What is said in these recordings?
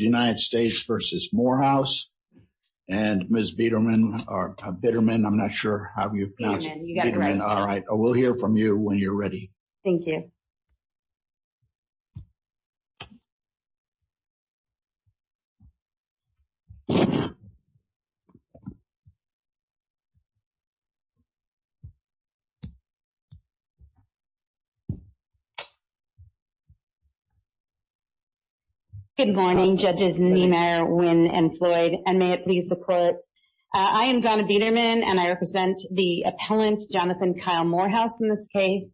United States v. Morehouse. And Ms. Bitterman, I'm not sure how you pronounce it. All right, we'll hear from you when you're ready. Thank you. Good morning, Judges Niemeyer, Nguyen, and Floyd, and may it please the Court. I am Donna Bitterman, and I represent the U.S. Army.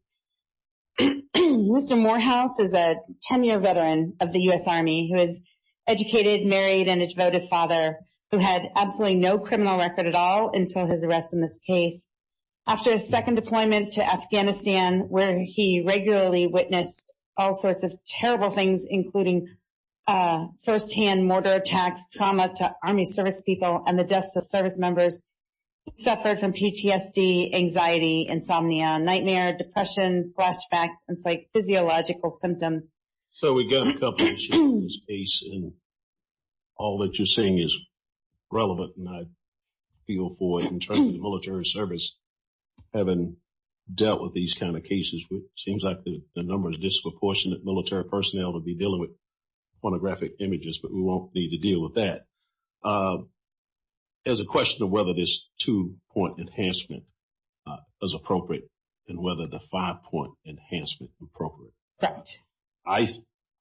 Mr. Morehouse is a 10-year veteran of the U.S. Army who is educated, married, and a devoted father who had absolutely no criminal record at all until his arrest in this case. After his second deployment to Afghanistan, where he regularly witnessed all sorts of terrible things, including firsthand mortar attacks, trauma to Army service people, and the deaths of service members, he suffered from PTSD, anxiety, insomnia, nightmare, depression, flashbacks, and psychophysiological symptoms. So, we got a couple of issues in this case, and all that you're saying is relevant, and I feel for, in terms of the military service, having dealt with these kind of cases, which seems like the number of disproportionate military personnel to be dealing with whether this two-point enhancement is appropriate and whether the five-point enhancement is appropriate. Correct.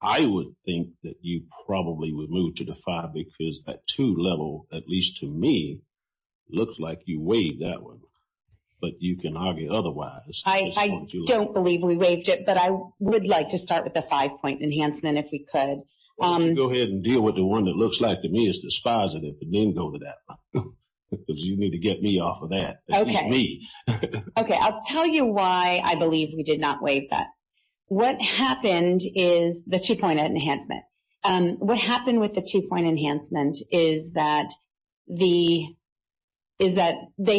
I would think that you probably would move to the five because that two level, at least to me, looks like you waived that one. But you can argue otherwise. I don't believe we waived it, but I would like to start with the five-point enhancement if we could. I'm going to go ahead and deal with the one that looks like to me is dispositive, but then go to that one because you need to get me off of that. Okay. At least me. Okay. I'll tell you why I believe we did not waive that. What happened is the two-point enhancement. What happened with the two-point enhancement is that they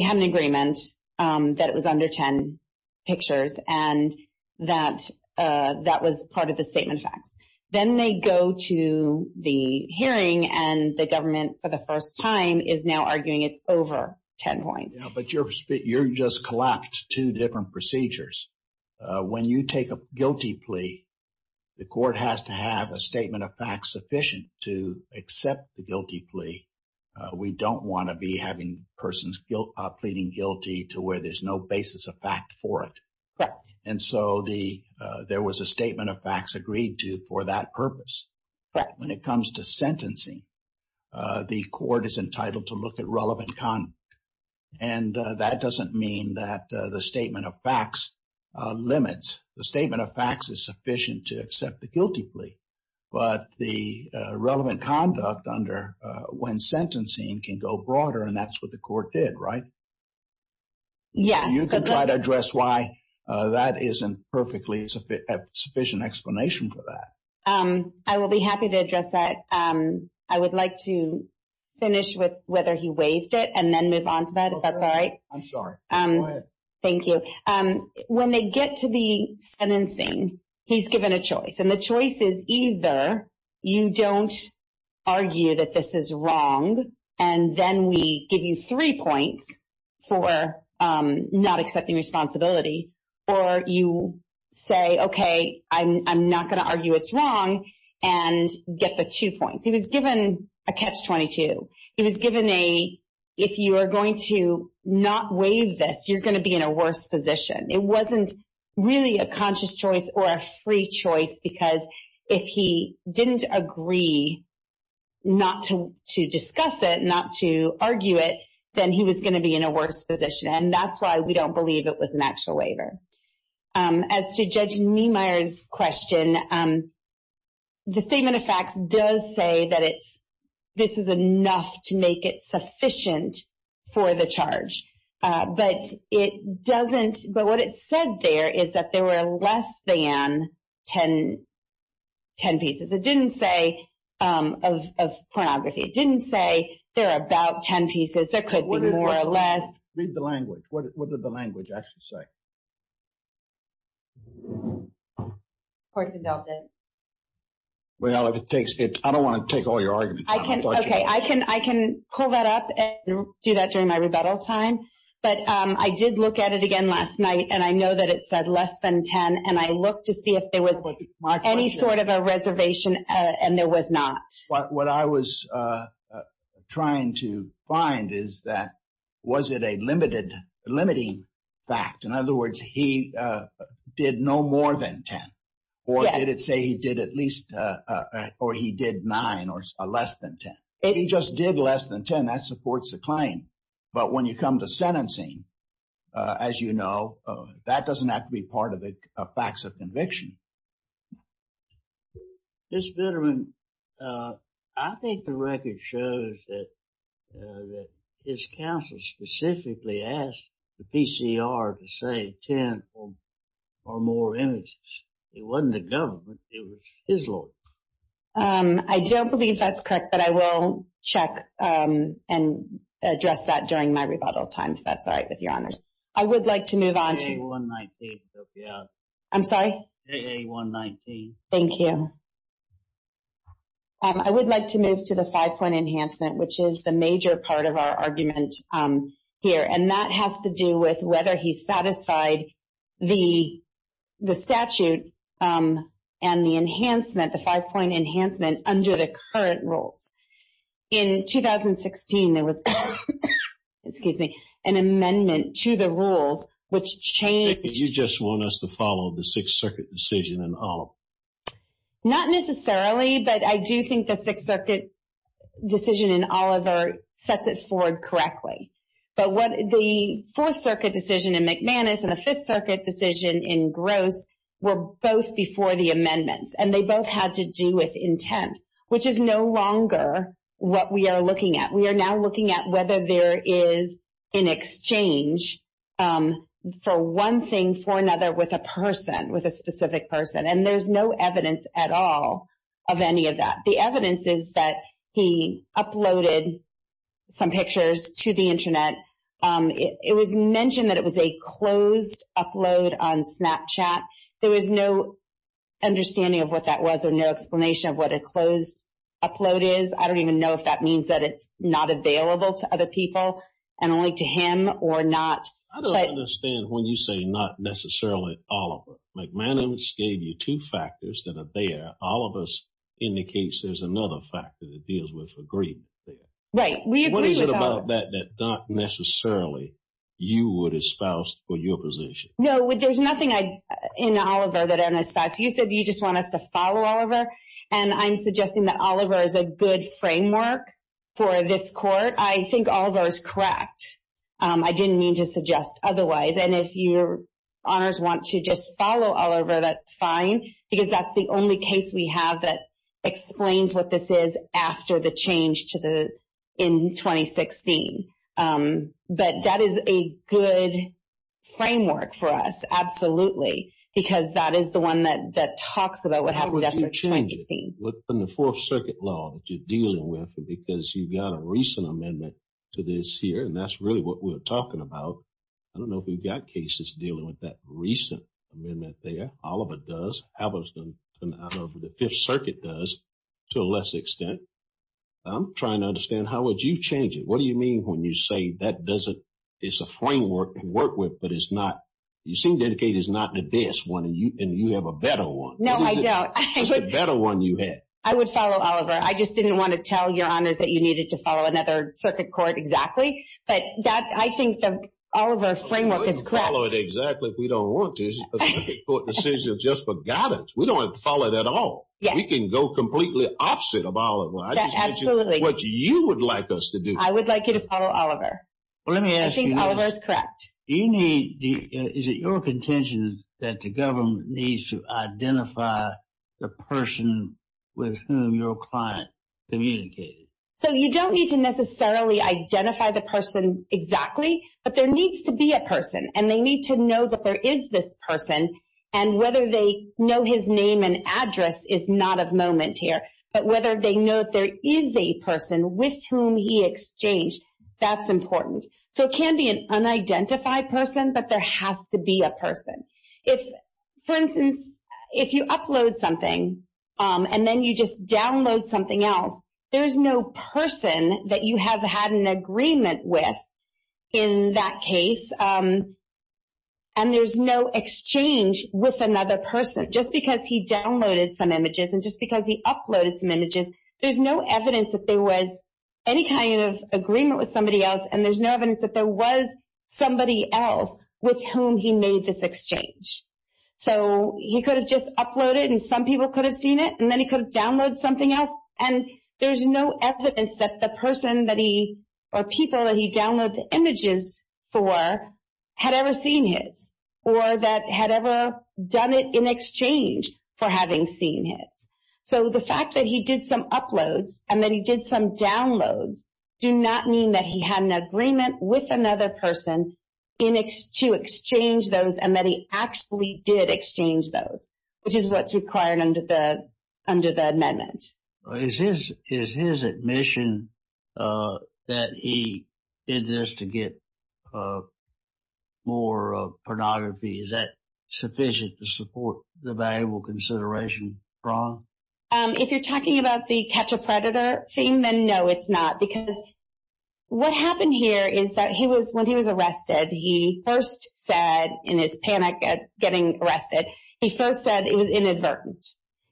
had an agreement that it was under 10 pictures, and that that was part of the statement of facts. Then they go to the hearing, and the government, for the first time, is now arguing it's over 10 points. But you just collapsed two different procedures. When you take a guilty plea, the court has to have a statement of facts sufficient to accept the guilty plea. We don't want to be having persons pleading guilty to where there's no basis of fact for it. Correct. And so there was a statement of facts agreed to for that purpose. When it comes to sentencing, the court is entitled to look at relevant conduct. And that doesn't mean that the statement of facts limits. The statement of facts is sufficient to accept the guilty plea, but the relevant conduct under when sentencing can go broader, and that's what the court did, right? Yes. You can try to address why that isn't perfectly sufficient explanation for that. I will be happy to address that. I would like to finish with whether he waived it and then move on to that, if that's all right. I'm sorry. Go ahead. Thank you. And the choice is either you don't argue that this is wrong and then we give you three points for not accepting responsibility, or you say, okay, I'm not going to argue it's wrong and get the two points. He was given a catch-22. He was given a, if you are going to not waive this, you're going to be in a worse position. It wasn't really a conscious choice or a free choice because if he didn't agree not to discuss it, not to argue it, then he was going to be in a worse position. And that's why we don't believe it was an actual waiver. As to Judge Niemeyer's question, the statement of facts does say that this is enough to make it sufficient for the charge. But it doesn't, but what it said there is that there were less than ten pieces. It didn't say of pornography. It didn't say there are about ten pieces. There could be more or less. Read the language. What did the language actually say? Of course, he dealt it. Well, if it takes, I don't want to take all your arguments. I can pull that up and do that during my rebuttal time. But I did look at it again last night, and I know that it said less than ten. And I looked to see if there was any sort of a reservation, and there was not. What I was trying to find is that was it a limiting fact? In other words, he did no more than ten. Or did it say he did at least, or he did nine or less than ten? If he just did less than ten, that supports the claim. But when you come to sentencing, as you know, that doesn't have to be part of the facts of conviction. Ms. Vitterman, I think the record shows that his counsel specifically asked the PCR to say ten or more images. It wasn't the government. It was his lawyer. I don't believe that's correct, but I will check and address that during my rebuttal time, if that's all right with your honors. I would like to move on to — I'm sorry? AA119. Thank you. I would like to move to the five-point enhancement, which is the major part of our argument here. And that has to do with whether he satisfied the statute and the enhancement, the five-point enhancement, under the current rules. In 2016, there was an amendment to the rules, which changed — You just want us to follow the Sixth Circuit decision in Oliver. Not necessarily, but I do think the Sixth Circuit decision in Oliver sets it forward correctly. But the Fourth Circuit decision in McManus and the Fifth Circuit decision in Gross were both before the amendments, and they both had to do with intent, which is no longer what we are looking at. We are now looking at whether there is an exchange for one thing for another with a person, with a specific person. And there's no evidence at all of any of that. The evidence is that he uploaded some pictures to the Internet. It was mentioned that it was a closed upload on Snapchat. There was no understanding of what that was or no explanation of what a closed upload is. I don't even know if that means that it's not available to other people and only to him or not. I don't understand when you say not necessarily Oliver. McManus gave you two factors that are there. Oliver indicates there's another factor that deals with agreement there. Right. We agree with Oliver. What is it about that that not necessarily you would espouse for your position? No, there's nothing in Oliver that I'd espouse. You said you just want us to follow Oliver, and I'm suggesting that Oliver is a good framework for this court. I think Oliver is correct. I didn't mean to suggest otherwise. And if your honors want to just follow Oliver, that's fine, because that's the only case we have that explains what this is after the change in 2016. But that is a good framework for us, absolutely, because that is the one that talks about what happened after 2016. How would you change it within the Fourth Circuit law that you're dealing with, because you've got a recent amendment to this here, and that's really what we're talking about. I don't know if we've got cases dealing with that recent amendment there. Oliver does. I don't know if the Fifth Circuit does to a less extent. I'm trying to understand how would you change it. What do you mean when you say that doesn't – it's a framework to work with, but it's not – you seem to indicate it's not the best one, and you have a better one. No, I don't. What's the better one you have? I would follow Oliver. I just didn't want to tell your honors that you needed to follow another circuit court exactly. But I think the Oliver framework is correct. We can follow it exactly if we don't want to. It's a circuit court decision just for guidance. We don't have to follow it at all. We can go completely opposite of Oliver. Absolutely. That's what you would like us to do. I would like you to follow Oliver. Well, let me ask you this. I think Oliver is correct. Do you need – is it your contention that the government needs to identify the person with whom your client communicated? So you don't need to necessarily identify the person exactly, but there needs to be a person, and they need to know that there is this person, and whether they know his name and address is not of moment here, but whether they know that there is a person with whom he exchanged, that's important. So it can be an unidentified person, but there has to be a person. For instance, if you upload something and then you just download something else, there's no person that you have had an agreement with in that case, and there's no exchange with another person. Just because he downloaded some images and just because he uploaded some images, there's no evidence that there was any kind of agreement with somebody else, and there's no evidence that there was somebody else with whom he made this exchange. So he could have just uploaded and some people could have seen it, and then he could have downloaded something else, and there's no evidence that the person or people that he downloaded the images for had ever seen his or that had ever done it in exchange for having seen his. So the fact that he did some uploads and that he did some downloads do not mean that he had an agreement with another person to exchange those and that he actually did exchange those, which is what's required under the amendment. Is his admission that he did this to get more pornography, is that sufficient to support the valuable consideration from? If you're talking about the catch a predator thing, then no, it's not, because what happened here is that when he was arrested, he first said, in his panic at getting arrested, he first said it was inadvertent.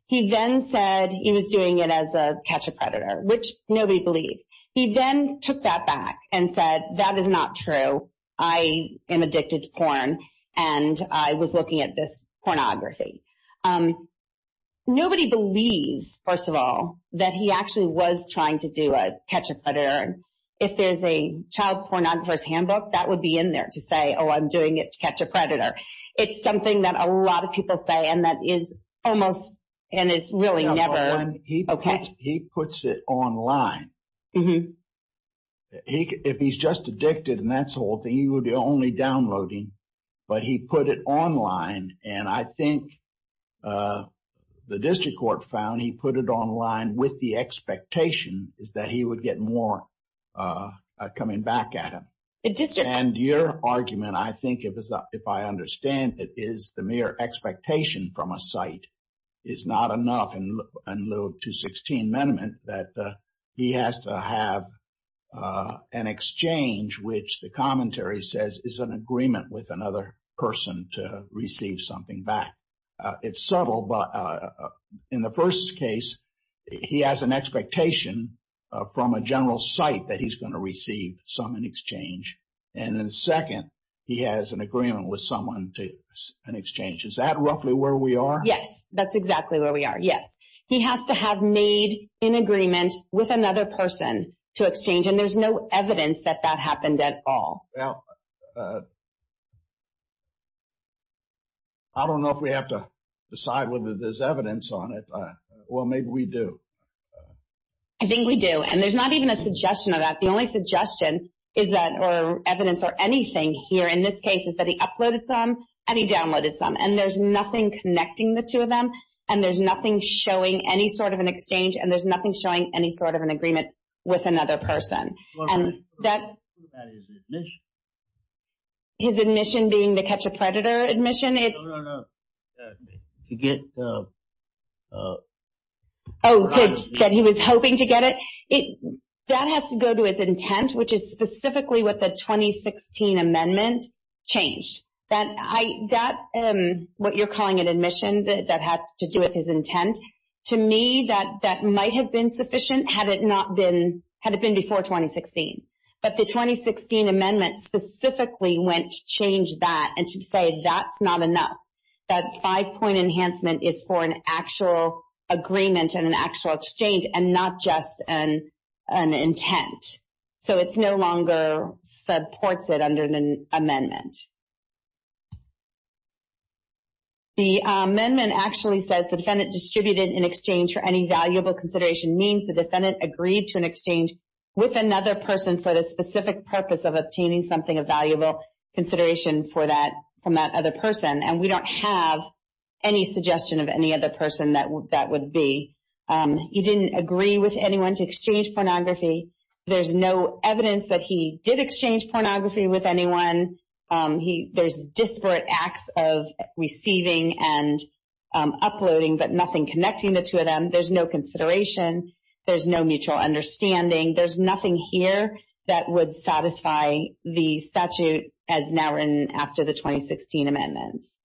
He then said he was doing it as a catch a predator, which nobody believed. He then took that back and said, that is not true. I am addicted to porn, and I was looking at this pornography. Nobody believes, first of all, that he actually was trying to do a catch a predator. If there's a child pornographer's handbook, that would be in there to say, oh, I'm doing it to catch a predator. It's something that a lot of people say, and it's really never okay. He puts it online. If he's just addicted and that's the whole thing, he would be only downloading, but he put it online, and I think the district court found he put it online with the expectation that he would get more coming back at him. Your argument, I think, if I understand it, is the mere expectation from a site is not enough in lieu of 216 amendment that he has to have an exchange, which the commentary says is an agreement with another person to receive something back. It's subtle, but in the first case, he has an expectation from a general site that he's going to receive some in exchange, and then second, he has an agreement with someone to an exchange. Is that roughly where we are? Yes, that's exactly where we are, yes. He has to have made an agreement with another person to exchange, and there's no evidence that that happened at all. I don't know if we have to decide whether there's evidence on it. Well, maybe we do. I think we do, and there's not even a suggestion of that. The only suggestion is that or evidence or anything here in this case is that he uploaded some and he downloaded some, and there's nothing connecting the two of them, and there's nothing showing any sort of an exchange, and there's nothing showing any sort of an agreement with another person. His admission being the catch-a-predator admission? No, no, no. Oh, that he was hoping to get it? That has to go to his intent, which is specifically what the 2016 amendment changed. That what you're calling an admission that had to do with his intent, to me that might have been sufficient had it been before 2016, but the 2016 amendment specifically went to change that and to say that's not enough. That five-point enhancement is for an actual agreement and an actual exchange and not just an intent, so it no longer supports it under the amendment. The amendment actually says the defendant distributed an exchange for any valuable consideration means the defendant agreed to an exchange with another person for the specific purpose of obtaining something of valuable consideration from that other person, and we don't have any suggestion of any other person that would be. He didn't agree with anyone to exchange pornography. There's no evidence that he did exchange pornography with anyone. There's disparate acts of receiving and uploading, but nothing connecting the two of them. There's no consideration. There's no mutual understanding. There's nothing here that would satisfy the statute as now written after the 2016 amendments.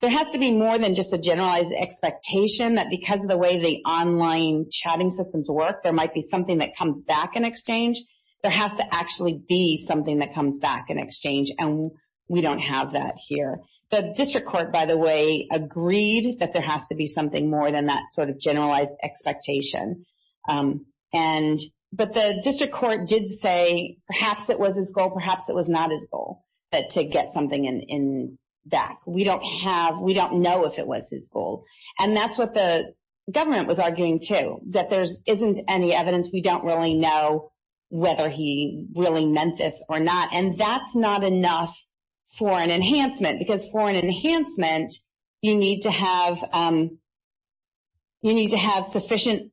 There has to be more than just a generalized expectation that because of the way the online chatting systems work, there might be something that comes back in exchange. There has to actually be something that comes back in exchange, and we don't have that here. The district court, by the way, agreed that there has to be something more than that sort of generalized expectation, but the district court did say perhaps it was his goal, perhaps it was not his goal to get something back. We don't know if it was his goal, and that's what the government was arguing too, that there isn't any evidence. We don't really know whether he really meant this or not, and that's not enough for an enhancement You need to have sufficient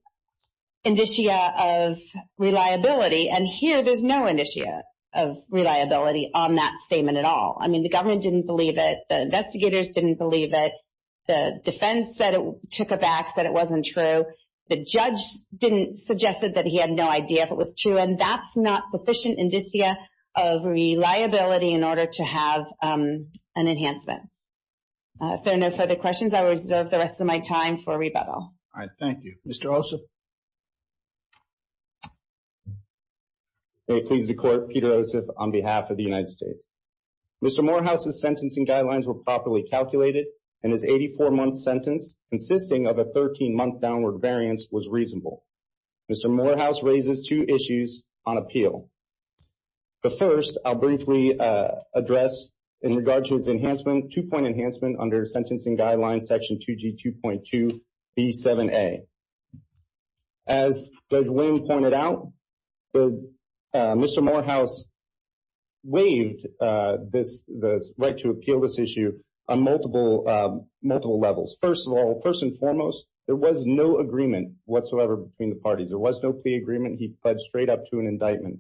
indicia of reliability, and here there's no indicia of reliability on that statement at all. I mean, the government didn't believe it. The investigators didn't believe it. The defense took a back, said it wasn't true. The judge didn't suggest it, that he had no idea if it was true, and that's not sufficient indicia of reliability in order to have an enhancement. If there are no further questions, I will reserve the rest of my time for rebuttal. All right, thank you. Mr. Ossoff? May it please the Court, Peter Ossoff on behalf of the United States. Mr. Morehouse's sentencing guidelines were properly calculated, and his 84-month sentence consisting of a 13-month downward variance was reasonable. Mr. Morehouse raises two issues on appeal. The first I'll briefly address in regards to his enhancement, two-point enhancement under sentencing guidelines, section 2G2.2B7A. As Judge William pointed out, Mr. Morehouse waived the right to appeal this issue on multiple levels. First of all, first and foremost, there was no agreement whatsoever between the parties. There was no plea agreement. He pled straight up to an indictment.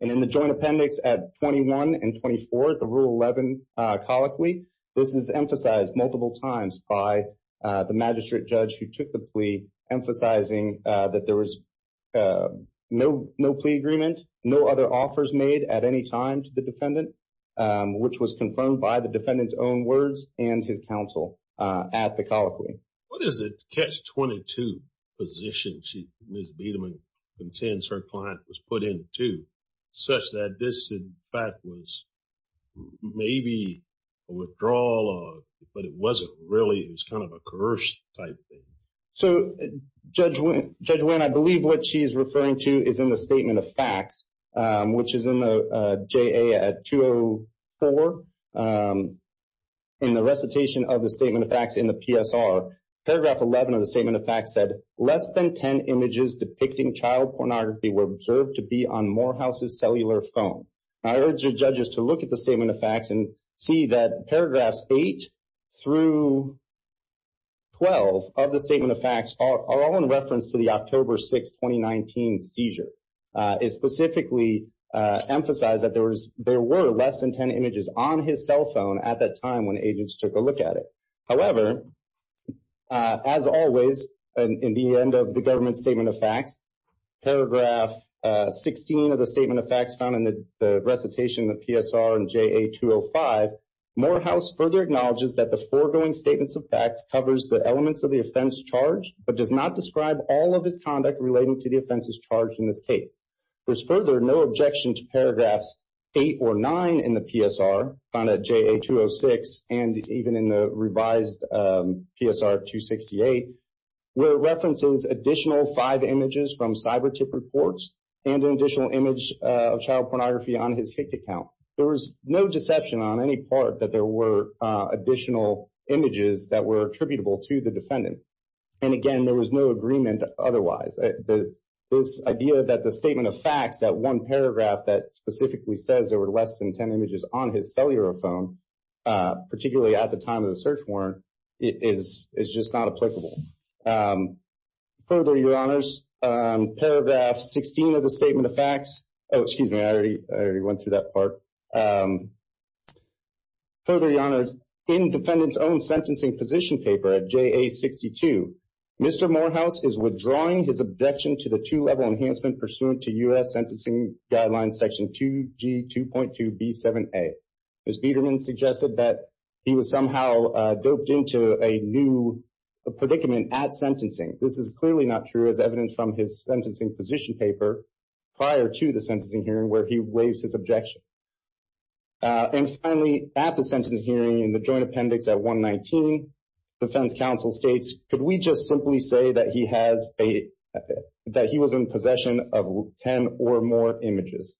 And in the joint appendix at 21 and 24, the Rule 11 colloquy, this is emphasized multiple times by the magistrate judge who took the plea, emphasizing that there was no plea agreement, no other offers made at any time to the defendant, which was confirmed by the defendant's own words and his counsel at the colloquy. What is the catch-22 position she, Ms. Biederman, contends her client was put into such that this, in fact, was maybe a withdrawal, but it wasn't really, it was kind of a coerced type thing? So, Judge Winn, I believe what she's referring to is in the statement of facts, which is in the JA at 204, in the recitation of the statement of facts in the PSR, paragraph 11 of the statement of facts said, less than 10 images depicting child pornography were observed to be on Morehouse's cellular phone. I urge the judges to look at the statement of facts and see that paragraphs 8 through 12 of the statement of facts are all in reference to the October 6, 2019 seizure. It specifically emphasized that there were less than 10 images on his cell phone at that time when agents took a look at it. However, as always, in the end of the government statement of facts, paragraph 16 of the statement of facts found in the recitation of PSR and JA 205, Morehouse further acknowledges that the foregoing statements of facts covers the elements of the offense charged, but does not describe all of his conduct relating to the offenses charged in this case. There's further no objection to paragraphs 8 or 9 in the PSR, found at JA 206, and even in the revised PSR 268, where it references additional five images from cyber tip reports and an additional image of child pornography on his HICD account. There was no deception on any part that there were additional images that were attributable to the defendant. And again, there was no agreement otherwise. This idea that the statement of facts, that one paragraph that specifically says there were less than 10 images on his cellular phone, particularly at the time of the search warrant, is just not applicable. Further, Your Honors, paragraph 16 of the statement of facts, excuse me, I already went through that part. Further, Your Honors, in defendant's own sentencing position paper at JA 62, Mr. Morehouse is withdrawing his objection to the two-level enhancement pursuant to U.S. Sentencing Guidelines Section 2G 2.2b7a. Ms. Biederman suggested that he was somehow doped into a new predicament at sentencing. This is clearly not true as evidenced from his sentencing position paper prior to the sentencing hearing where he waives his objection. And finally, at the sentencing hearing in the joint appendix at 119, defense counsel states, could we just simply say that he was in possession of 10 or more images?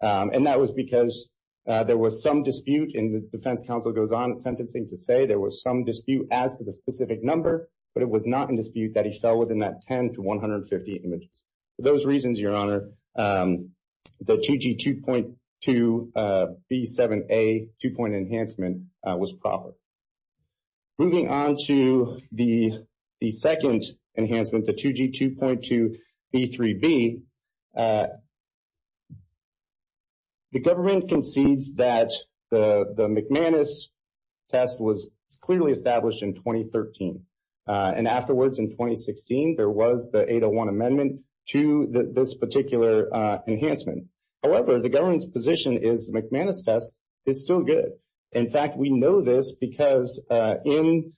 And that was because there was some dispute, and the defense counsel goes on at sentencing to say there was some dispute as to the specific number, but it was not in dispute that he fell within that 10 to 150 images. For those reasons, Your Honor, the 2G 2.2b7a two-point enhancement was proper. Moving on to the second enhancement, the 2G 2.2b3b, the government concedes that the McManus test was clearly established in 2013. And afterwards, in 2016, there was the 801 amendment to this particular enhancement. However, the government's position is the McManus test is still good. In fact, we know this because in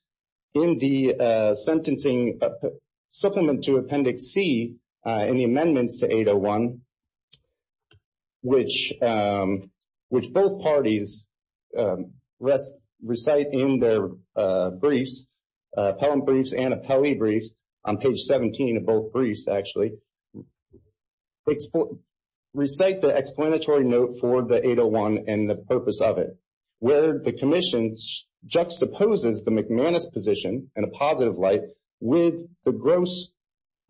the sentencing supplement to Appendix C in the amendments to 801, which both parties recite in their briefs, appellant briefs and appellee briefs, on page 17 of both briefs, actually, recite the explanatory note for the 801 and the purpose of it, where the commission juxtaposes the McManus position in a positive light with the gross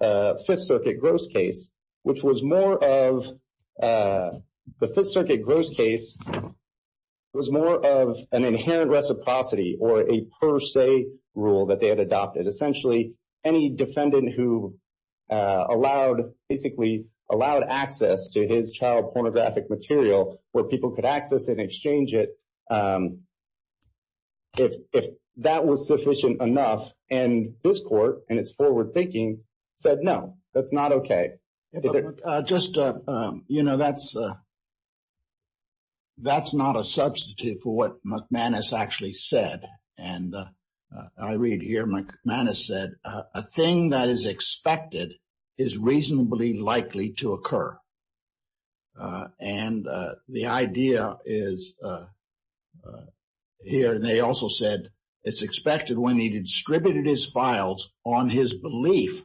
Fifth Circuit gross case, which was more of an inherent reciprocity or a per se rule that they had adopted. Essentially, any defendant who basically allowed access to his child pornographic material, where people could access and exchange it, if that was sufficient enough, and this court and its forward thinking said, no, that's not okay. Just, you know, that's not a substitute for what McManus actually said. And I read here, McManus said, a thing that is expected is reasonably likely to occur. And the idea is here. And they also said, it's expected when he distributed his files on his belief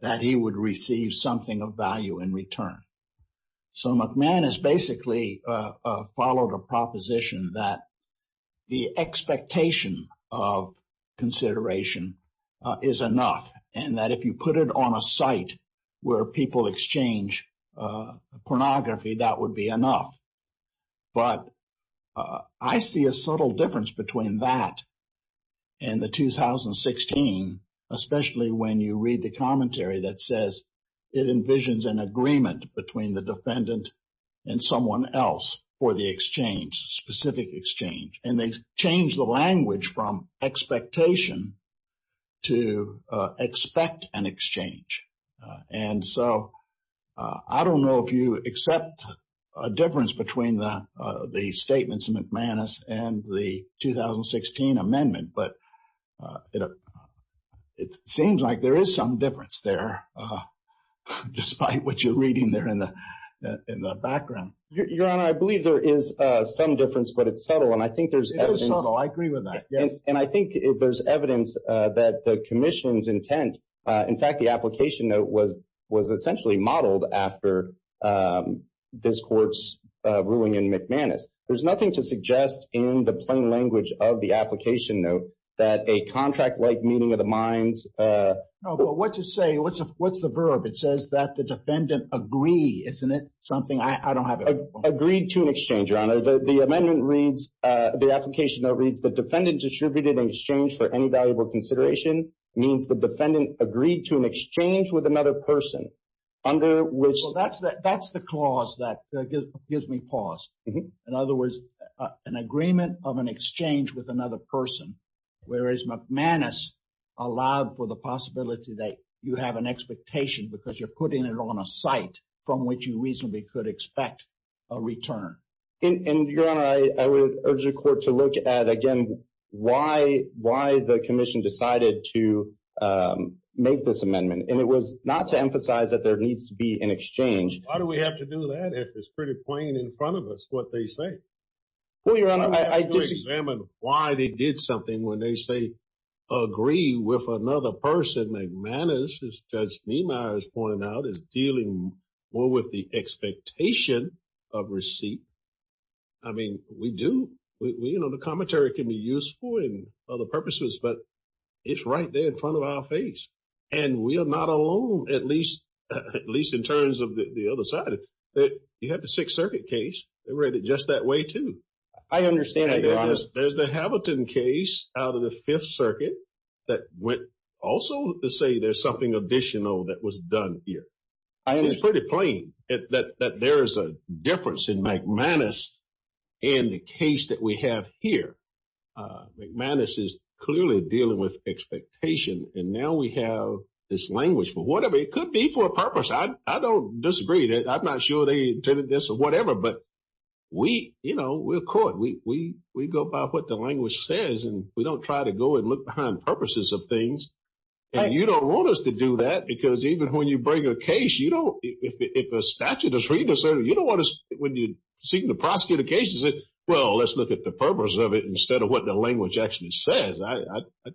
that he would receive something of value in return. So McManus basically followed a proposition that the expectation of consideration is enough, and that if you put it on a site where people exchange pornography, that would be enough. But I see a subtle difference between that and the 2016, especially when you read the commentary that says, it envisions an agreement between the defendant and someone else for the exchange, specific exchange. And they changed the language from expectation to expect an exchange. And so I don't know if you accept a difference between the statements of McManus and the 2016 amendment, but it seems like there is some difference there, despite what you're reading there in the background. Your Honor, I believe there is some difference, but it's subtle. It is subtle. I agree with that. Yes. In fact, the application note was essentially modeled after this court's ruling in McManus. There's nothing to suggest in the plain language of the application note that a contract-like meeting of the minds. What to say? What's the verb? It says that the defendant agree, isn't it? Something I don't have. Agreed to an exchange. Your Honor, the amendment reads, the application reads, the defendant distributed an exchange for any valuable consideration means the defendant agreed to an exchange with another person. Well, that's the clause that gives me pause. In other words, an agreement of an exchange with another person, whereas McManus allowed for the possibility that you have an expectation because you're putting it on a site from which you reasonably could expect a return. And, Your Honor, I would urge the court to look at, again, why the commission decided to make this amendment. And it was not to emphasize that there needs to be an exchange. Why do we have to do that if it's pretty plain in front of us what they say? Well, Your Honor, I disagree. We need to examine why they did something when they say agree with another person. McManus, as Judge Niemeyer has pointed out, is dealing more with the expectation of receipt. I mean, we do. You know, the commentary can be useful in other purposes, but it's right there in front of our face. And we are not alone, at least in terms of the other side. You had the Sixth Circuit case. They read it just that way, too. I understand, Your Honor. There's the Hamilton case out of the Fifth Circuit that went also to say there's something additional that was done here. I understand. It's pretty plain that there is a difference in McManus and the case that we have here. McManus is clearly dealing with expectation, and now we have this language for whatever. It could be for a purpose. I don't disagree. I'm not sure they intended this or whatever. But, you know, we're a court. We go by what the language says, and we don't try to go and look behind purposes of things. And you don't want us to do that because even when you bring a case, you don't – if a statute is read, you don't want us – when you're seeking to prosecute a case, you say, well, let's look at the purpose of it instead of what the language actually says.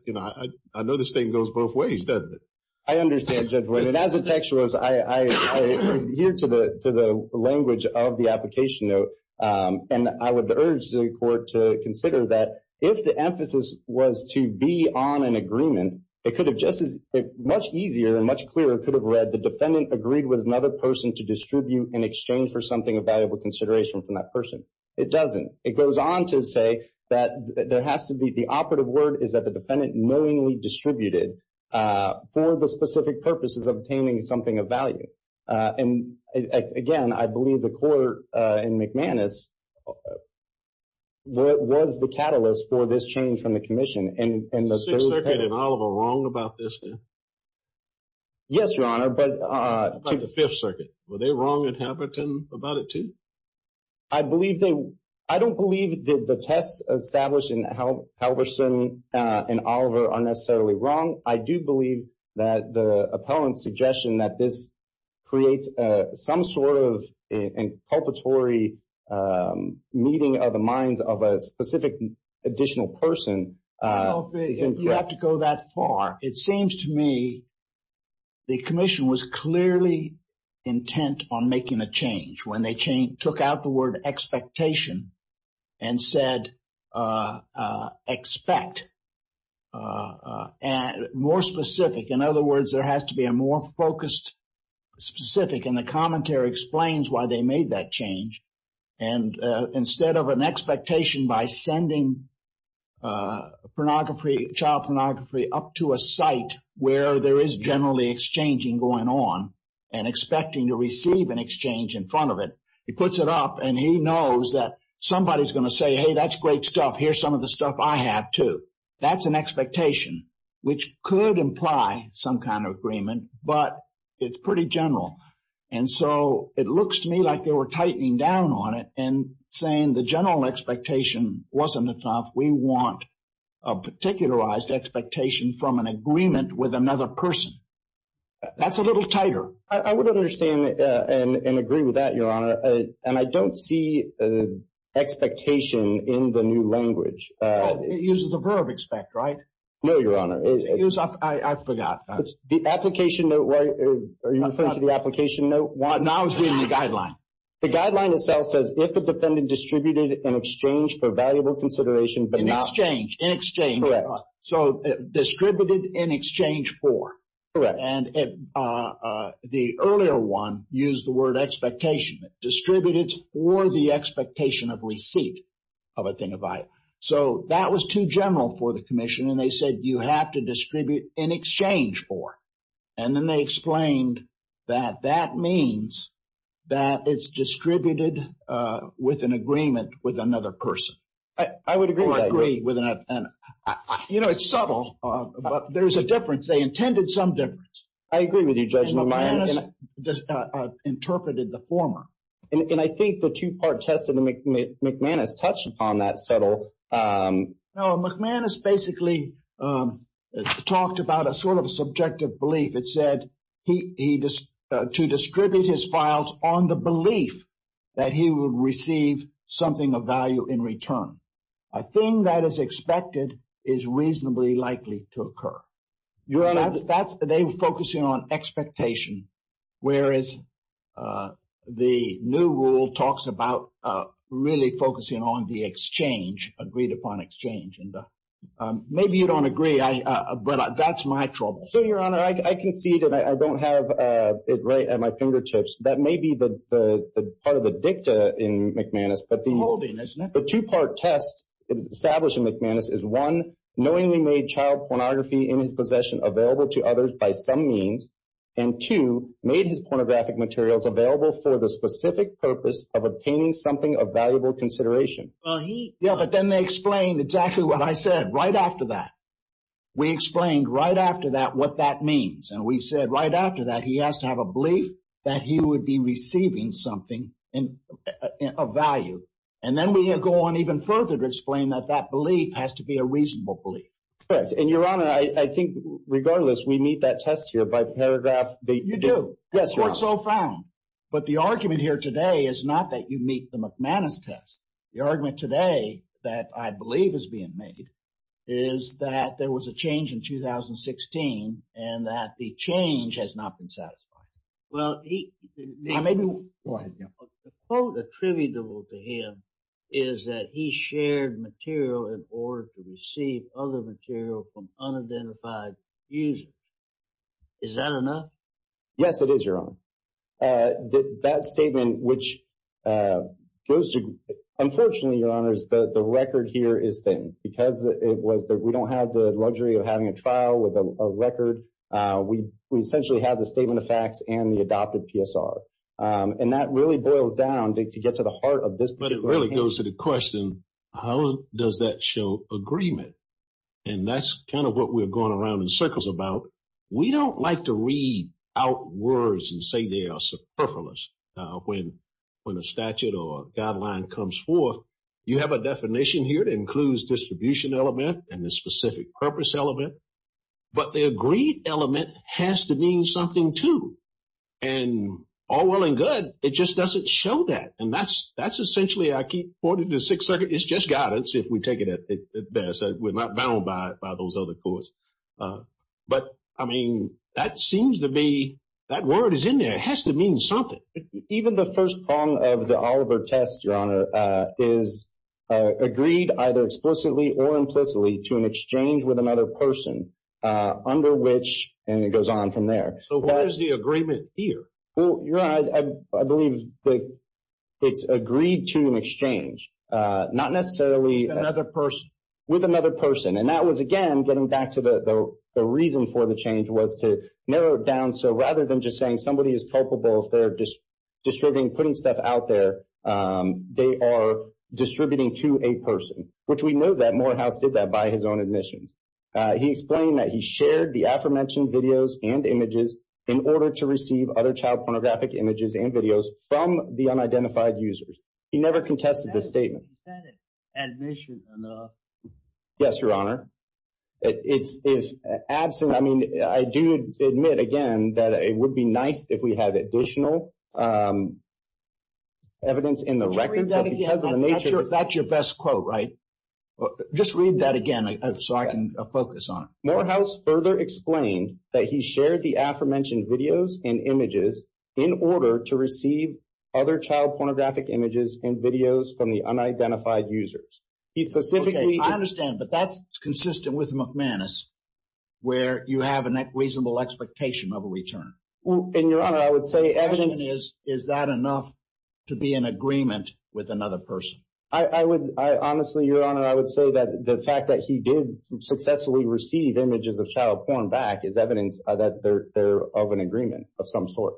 You know, I know this thing goes both ways, doesn't it? I understand, Judge White. And as a textualist, I adhere to the language of the application note, and I would urge the court to consider that if the emphasis was to be on an agreement, it could have just as – much easier and much clearer could have read the defendant agreed with another person to distribute in exchange for something of valuable consideration from that person. It doesn't. It goes on to say that there has to be – the operative word is that the defendant knowingly distributed for the specific purposes of obtaining something of value. And, again, I believe the court in McManus was the catalyst for this change from the commission. Is the Sixth Circuit in Oliver wrong about this, then? Yes, Your Honor, but – About the Fifth Circuit. Were they wrong in Hamilton about it, too? I believe they – I don't believe that the tests established in Halverson and Oliver are necessarily wrong. I do believe that the appellant's suggestion that this creates some sort of inculpatory meeting of the minds of a specific additional person. I don't think you have to go that far. It seems to me the commission was clearly intent on making a change when they took out the word expectation and said expect. More specific. In other words, there has to be a more focused specific, and the commentary explains why they made that change. And instead of an expectation by sending pornography, child pornography, up to a site where there is generally exchanging going on and expecting to receive an exchange in front of it, he puts it up and he knows that somebody's going to say, hey, that's great stuff, here's some of the stuff I have, too. That's an expectation, which could imply some kind of agreement, but it's pretty general. And so it looks to me like they were tightening down on it and saying the general expectation wasn't enough. We want a particularized expectation from an agreement with another person. That's a little tighter. I would understand and agree with that, Your Honor, and I don't see expectation in the new language. It uses the verb expect, right? No, Your Honor. I forgot. The application note, are you referring to the application note? No, I was reading the guideline. The guideline itself says, if the defendant distributed in exchange for valuable consideration but not- In exchange. In exchange. Correct. So distributed in exchange for. Correct. And the earlier one used the word expectation. Distributed for the expectation of receipt of a thing of value. So that was too general for the commission, and they said you have to distribute in exchange for. And then they explained that that means that it's distributed with an agreement with another person. I would agree with that, Your Honor. You know, it's subtle, but there's a difference. They intended some difference. I agree with you, Judge McManus. And McManus interpreted the former. And I think the two-part test that McManus touched upon, that subtle- No, McManus basically talked about a sort of subjective belief. It said to distribute his files on the belief that he would receive something of value in return. A thing that is expected is reasonably likely to occur. Your Honor- They were focusing on expectation, whereas the new rule talks about really focusing on the exchange, agreed-upon exchange. And maybe you don't agree, but that's my trouble. Your Honor, I concede, and I don't have it right at my fingertips. That may be part of the dicta in McManus, but the two-part test established in McManus is, one, knowingly made child pornography in his possession available to others by some means, and two, made his pornographic materials available for the specific purpose of obtaining something of valuable consideration. Yeah, but then they explained exactly what I said right after that. We explained right after that what that means. And we said right after that he has to have a belief that he would be receiving something of value. And then we go on even further to explain that that belief has to be a reasonable belief. Correct. And, Your Honor, I think, regardless, we meet that test here by paragraph- You do. Yes, Your Honor. That's what's so found. But the argument here today is not that you meet the McManus test. The argument today that I believe is being made is that there was a change in 2016 and that the change has not been satisfied. Well, the quote attributable to him is that he shared material in order to receive other material from unidentified users. Is that enough? Yes, it is, Your Honor. That statement, which goes to- Unfortunately, Your Honors, the record here is thin because we don't have the luxury of having a trial with a record. We essentially have the statement of facts and the adopted PSR. And that really boils down to get to the heart of this particular- But it really goes to the question, how does that show agreement? And that's kind of what we're going around in circles about. We don't like to read out words and say they are superfluous when a statute or guideline comes forth. You have a definition here that includes distribution element and the specific purpose element. But the agreed element has to mean something, too. And all well and good, it just doesn't show that. And that's essentially, I keep pointing to the Sixth Circuit. It's just guidance if we take it at best. We're not bound by those other courts. But, I mean, that seems to be- that word is in there. It has to mean something. Even the first prong of the Oliver test, Your Honor, is agreed either explicitly or implicitly to an exchange with another person under which- And it goes on from there. So what is the agreement here? Well, Your Honor, I believe that it's agreed to an exchange, not necessarily- Another person. With another person. And that was, again, getting back to the reason for the change was to narrow it down. So rather than just saying somebody is culpable if they're distributing, putting stuff out there, they are distributing to a person. Which we know that Morehouse did that by his own admissions. He explained that he shared the aforementioned videos and images in order to receive other child pornographic images and videos from the unidentified users. He never contested the statement. Is that an admission or not? Yes, Your Honor. It's absent- I mean, I do admit, again, that it would be nice if we had additional evidence in the record. Just read that again. That's your best quote, right? Just read that again so I can focus on it. Morehouse further explained that he shared the aforementioned videos and images in order to receive other child pornographic images and videos from the unidentified users. He specifically- Consistent with McManus, where you have a reasonable expectation of a return. And, Your Honor, I would say- The question is, is that enough to be in agreement with another person? I would- Honestly, Your Honor, I would say that the fact that he did successfully receive images of child porn back is evidence that they're of an agreement of some sort.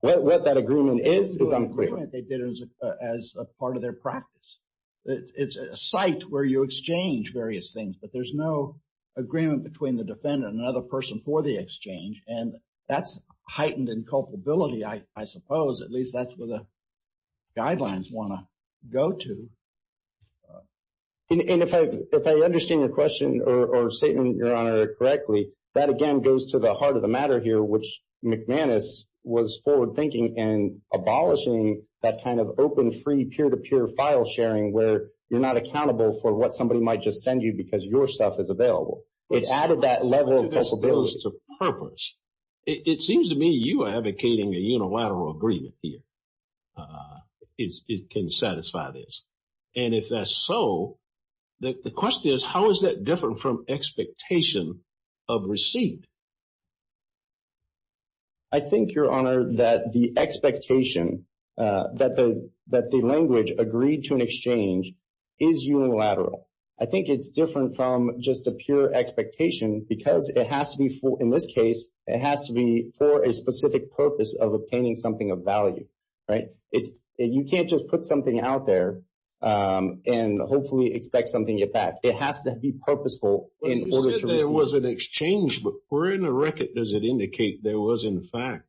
What that agreement is, is unclear. It's not an agreement they did as part of their practice. It's a site where you exchange various things, but there's no agreement between the defendant and another person for the exchange. And that's heightened in culpability, I suppose. At least that's where the guidelines want to go to. And if I understand your question or statement, Your Honor, correctly, that, again, goes to the heart of the matter here, which McManus was forward thinking and abolishing that kind of open, free, peer-to-peer file sharing where you're not accountable for what somebody might just send you because your stuff is available. It added that level of culpability. It seems to me you are advocating a unilateral agreement here. It can satisfy this. And if that's so, the question is, how is that different from expectation of receipt? I think, Your Honor, that the expectation that the language agreed to an exchange is unilateral. I think it's different from just a pure expectation because it has to be for, in this case, it has to be for a specific purpose of obtaining something of value, right? You can't just put something out there and hopefully expect something at that. It has to be purposeful in order to receive it. When you said there was an exchange, where in the record does it indicate there was, in fact,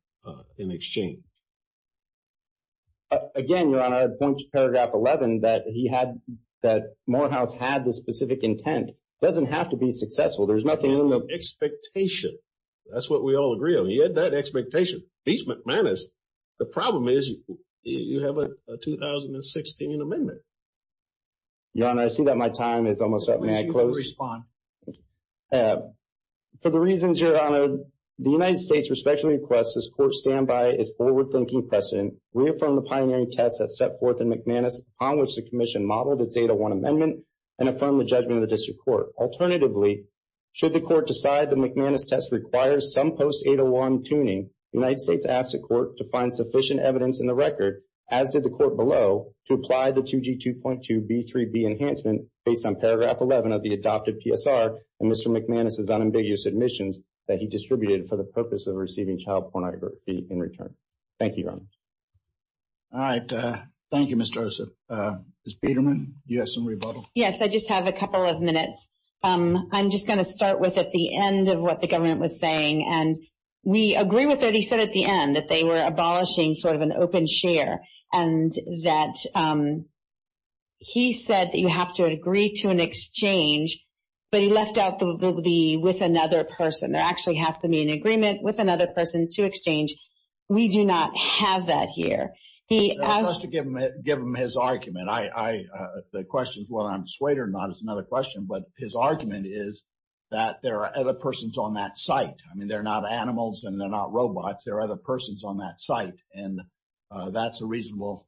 an exchange? Again, Your Honor, point to paragraph 11 that Morehouse had this specific intent. It doesn't have to be successful. There's nothing in the— Expectation. That's what we all agree on. He had that expectation. At least McManus. The problem is you have a 2016 amendment. Your Honor, I see that my time is almost up. May I close? Please respond. For the reasons, Your Honor, the United States respectfully requests this court stand by its forward-thinking precedent, reaffirm the pioneering test that's set forth in McManus on which the commission modeled its 801 amendment, and affirm the judgment of the district court. Alternatively, should the court decide the McManus test requires some post-801 tuning, the United States asks the court to find sufficient evidence in the record, as did the court below, to apply the 2G2.2B3B enhancement based on paragraph 11 of the adopted PSR and Mr. McManus's unambiguous admissions that he distributed for the purpose of receiving child pornography in return. Thank you, Your Honor. All right. Thank you, Mr. Ossoff. Ms. Peterman, do you have some rebuttal? Yes, I just have a couple of minutes. I'm just going to start with at the end of what the government was saying, and we agree with what he said at the end, that they were abolishing sort of an open share and that he said that you have to agree to an exchange, but he left out the with another person. There actually has to be an agreement with another person to exchange. We do not have that here. Just to give him his argument, the question is whether I'm swayed or not is another question, but his argument is that there are other persons on that site. I mean, they're not animals and they're not robots. There are other persons on that site, and that's a reasonable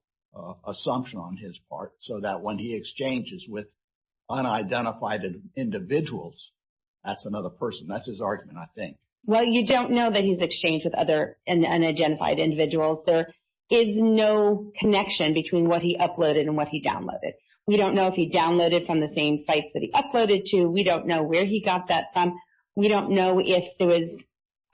assumption on his part, so that when he exchanges with unidentified individuals, that's another person. That's his argument, I think. Well, you don't know that he's exchanged with other unidentified individuals. There is no connection between what he uploaded and what he downloaded. We don't know if he downloaded from the same sites that he uploaded to. We don't know where he got that from. We don't know if there was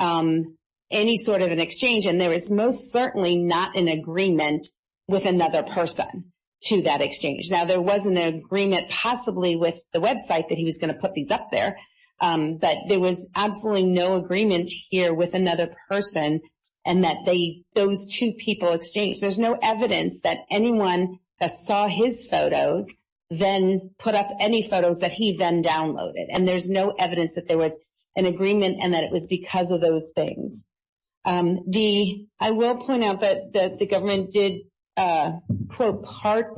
any sort of an exchange, and there is most certainly not an agreement with another person to that exchange. Now, there was an agreement possibly with the website that he was going to put these up there, but there was absolutely no agreement here with another person and that those two people exchanged. There's no evidence that anyone that saw his photos then put up any photos that he then downloaded, and there's no evidence that there was an agreement and that it was because of those things. I will point out that the government did quote part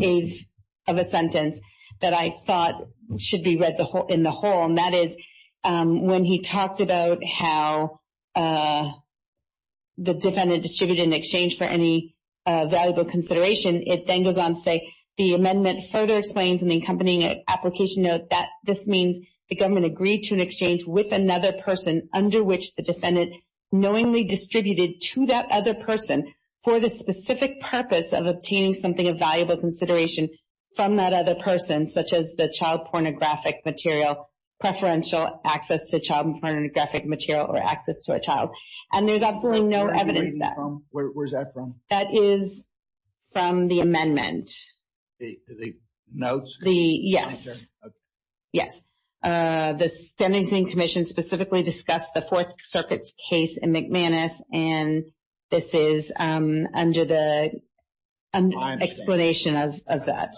of a sentence that I thought should be read in the whole, and that is when he talked about how the defendant distributed an exchange for any valuable consideration, it then goes on to say, the amendment further explains in the accompanying application note that this means the government agreed to an exchange with another person under which the defendant knowingly distributed to that other person for the specific purpose of obtaining something of valuable consideration from that other person, such as the child pornographic material, preferential access to child pornographic material, or access to a child. And there's absolutely no evidence of that. Where's that from? That is from the amendment. The notes? Yes. Okay. Yes. The Sentencing Commission specifically discussed the Fourth Circuit's case in McManus, and this is under the explanation of that.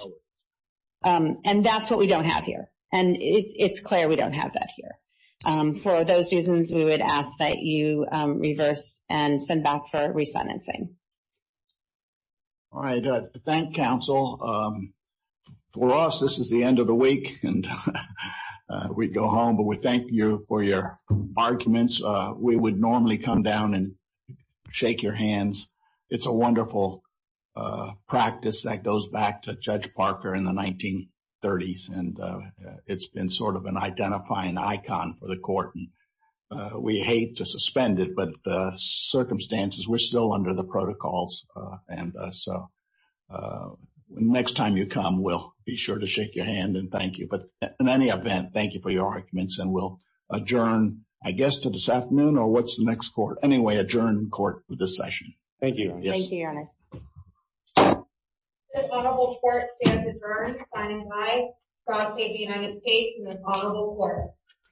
And that's what we don't have here, and it's clear we don't have that here. For those reasons, we would ask that you reverse and send back for resentencing. All right. Thank you, counsel. For us, this is the end of the week, and we go home, but we thank you for your arguments. We would normally come down and shake your hands. It's a wonderful practice that goes back to Judge Parker in the 1930s, and it's been sort of an identifying icon for the court, and we hate to suspend it, but the circumstances, we're still under the protocols, and so next time you come, we'll be sure to shake your hand and thank you. But in any event, thank you for your arguments, and we'll adjourn, I guess, to this afternoon, or what's the next court? Anyway, adjourn court for this session. Thank you. Thank you, Your Honor. This honorable court stands adjourned, signing by Prosecutor of the United States and this honorable court.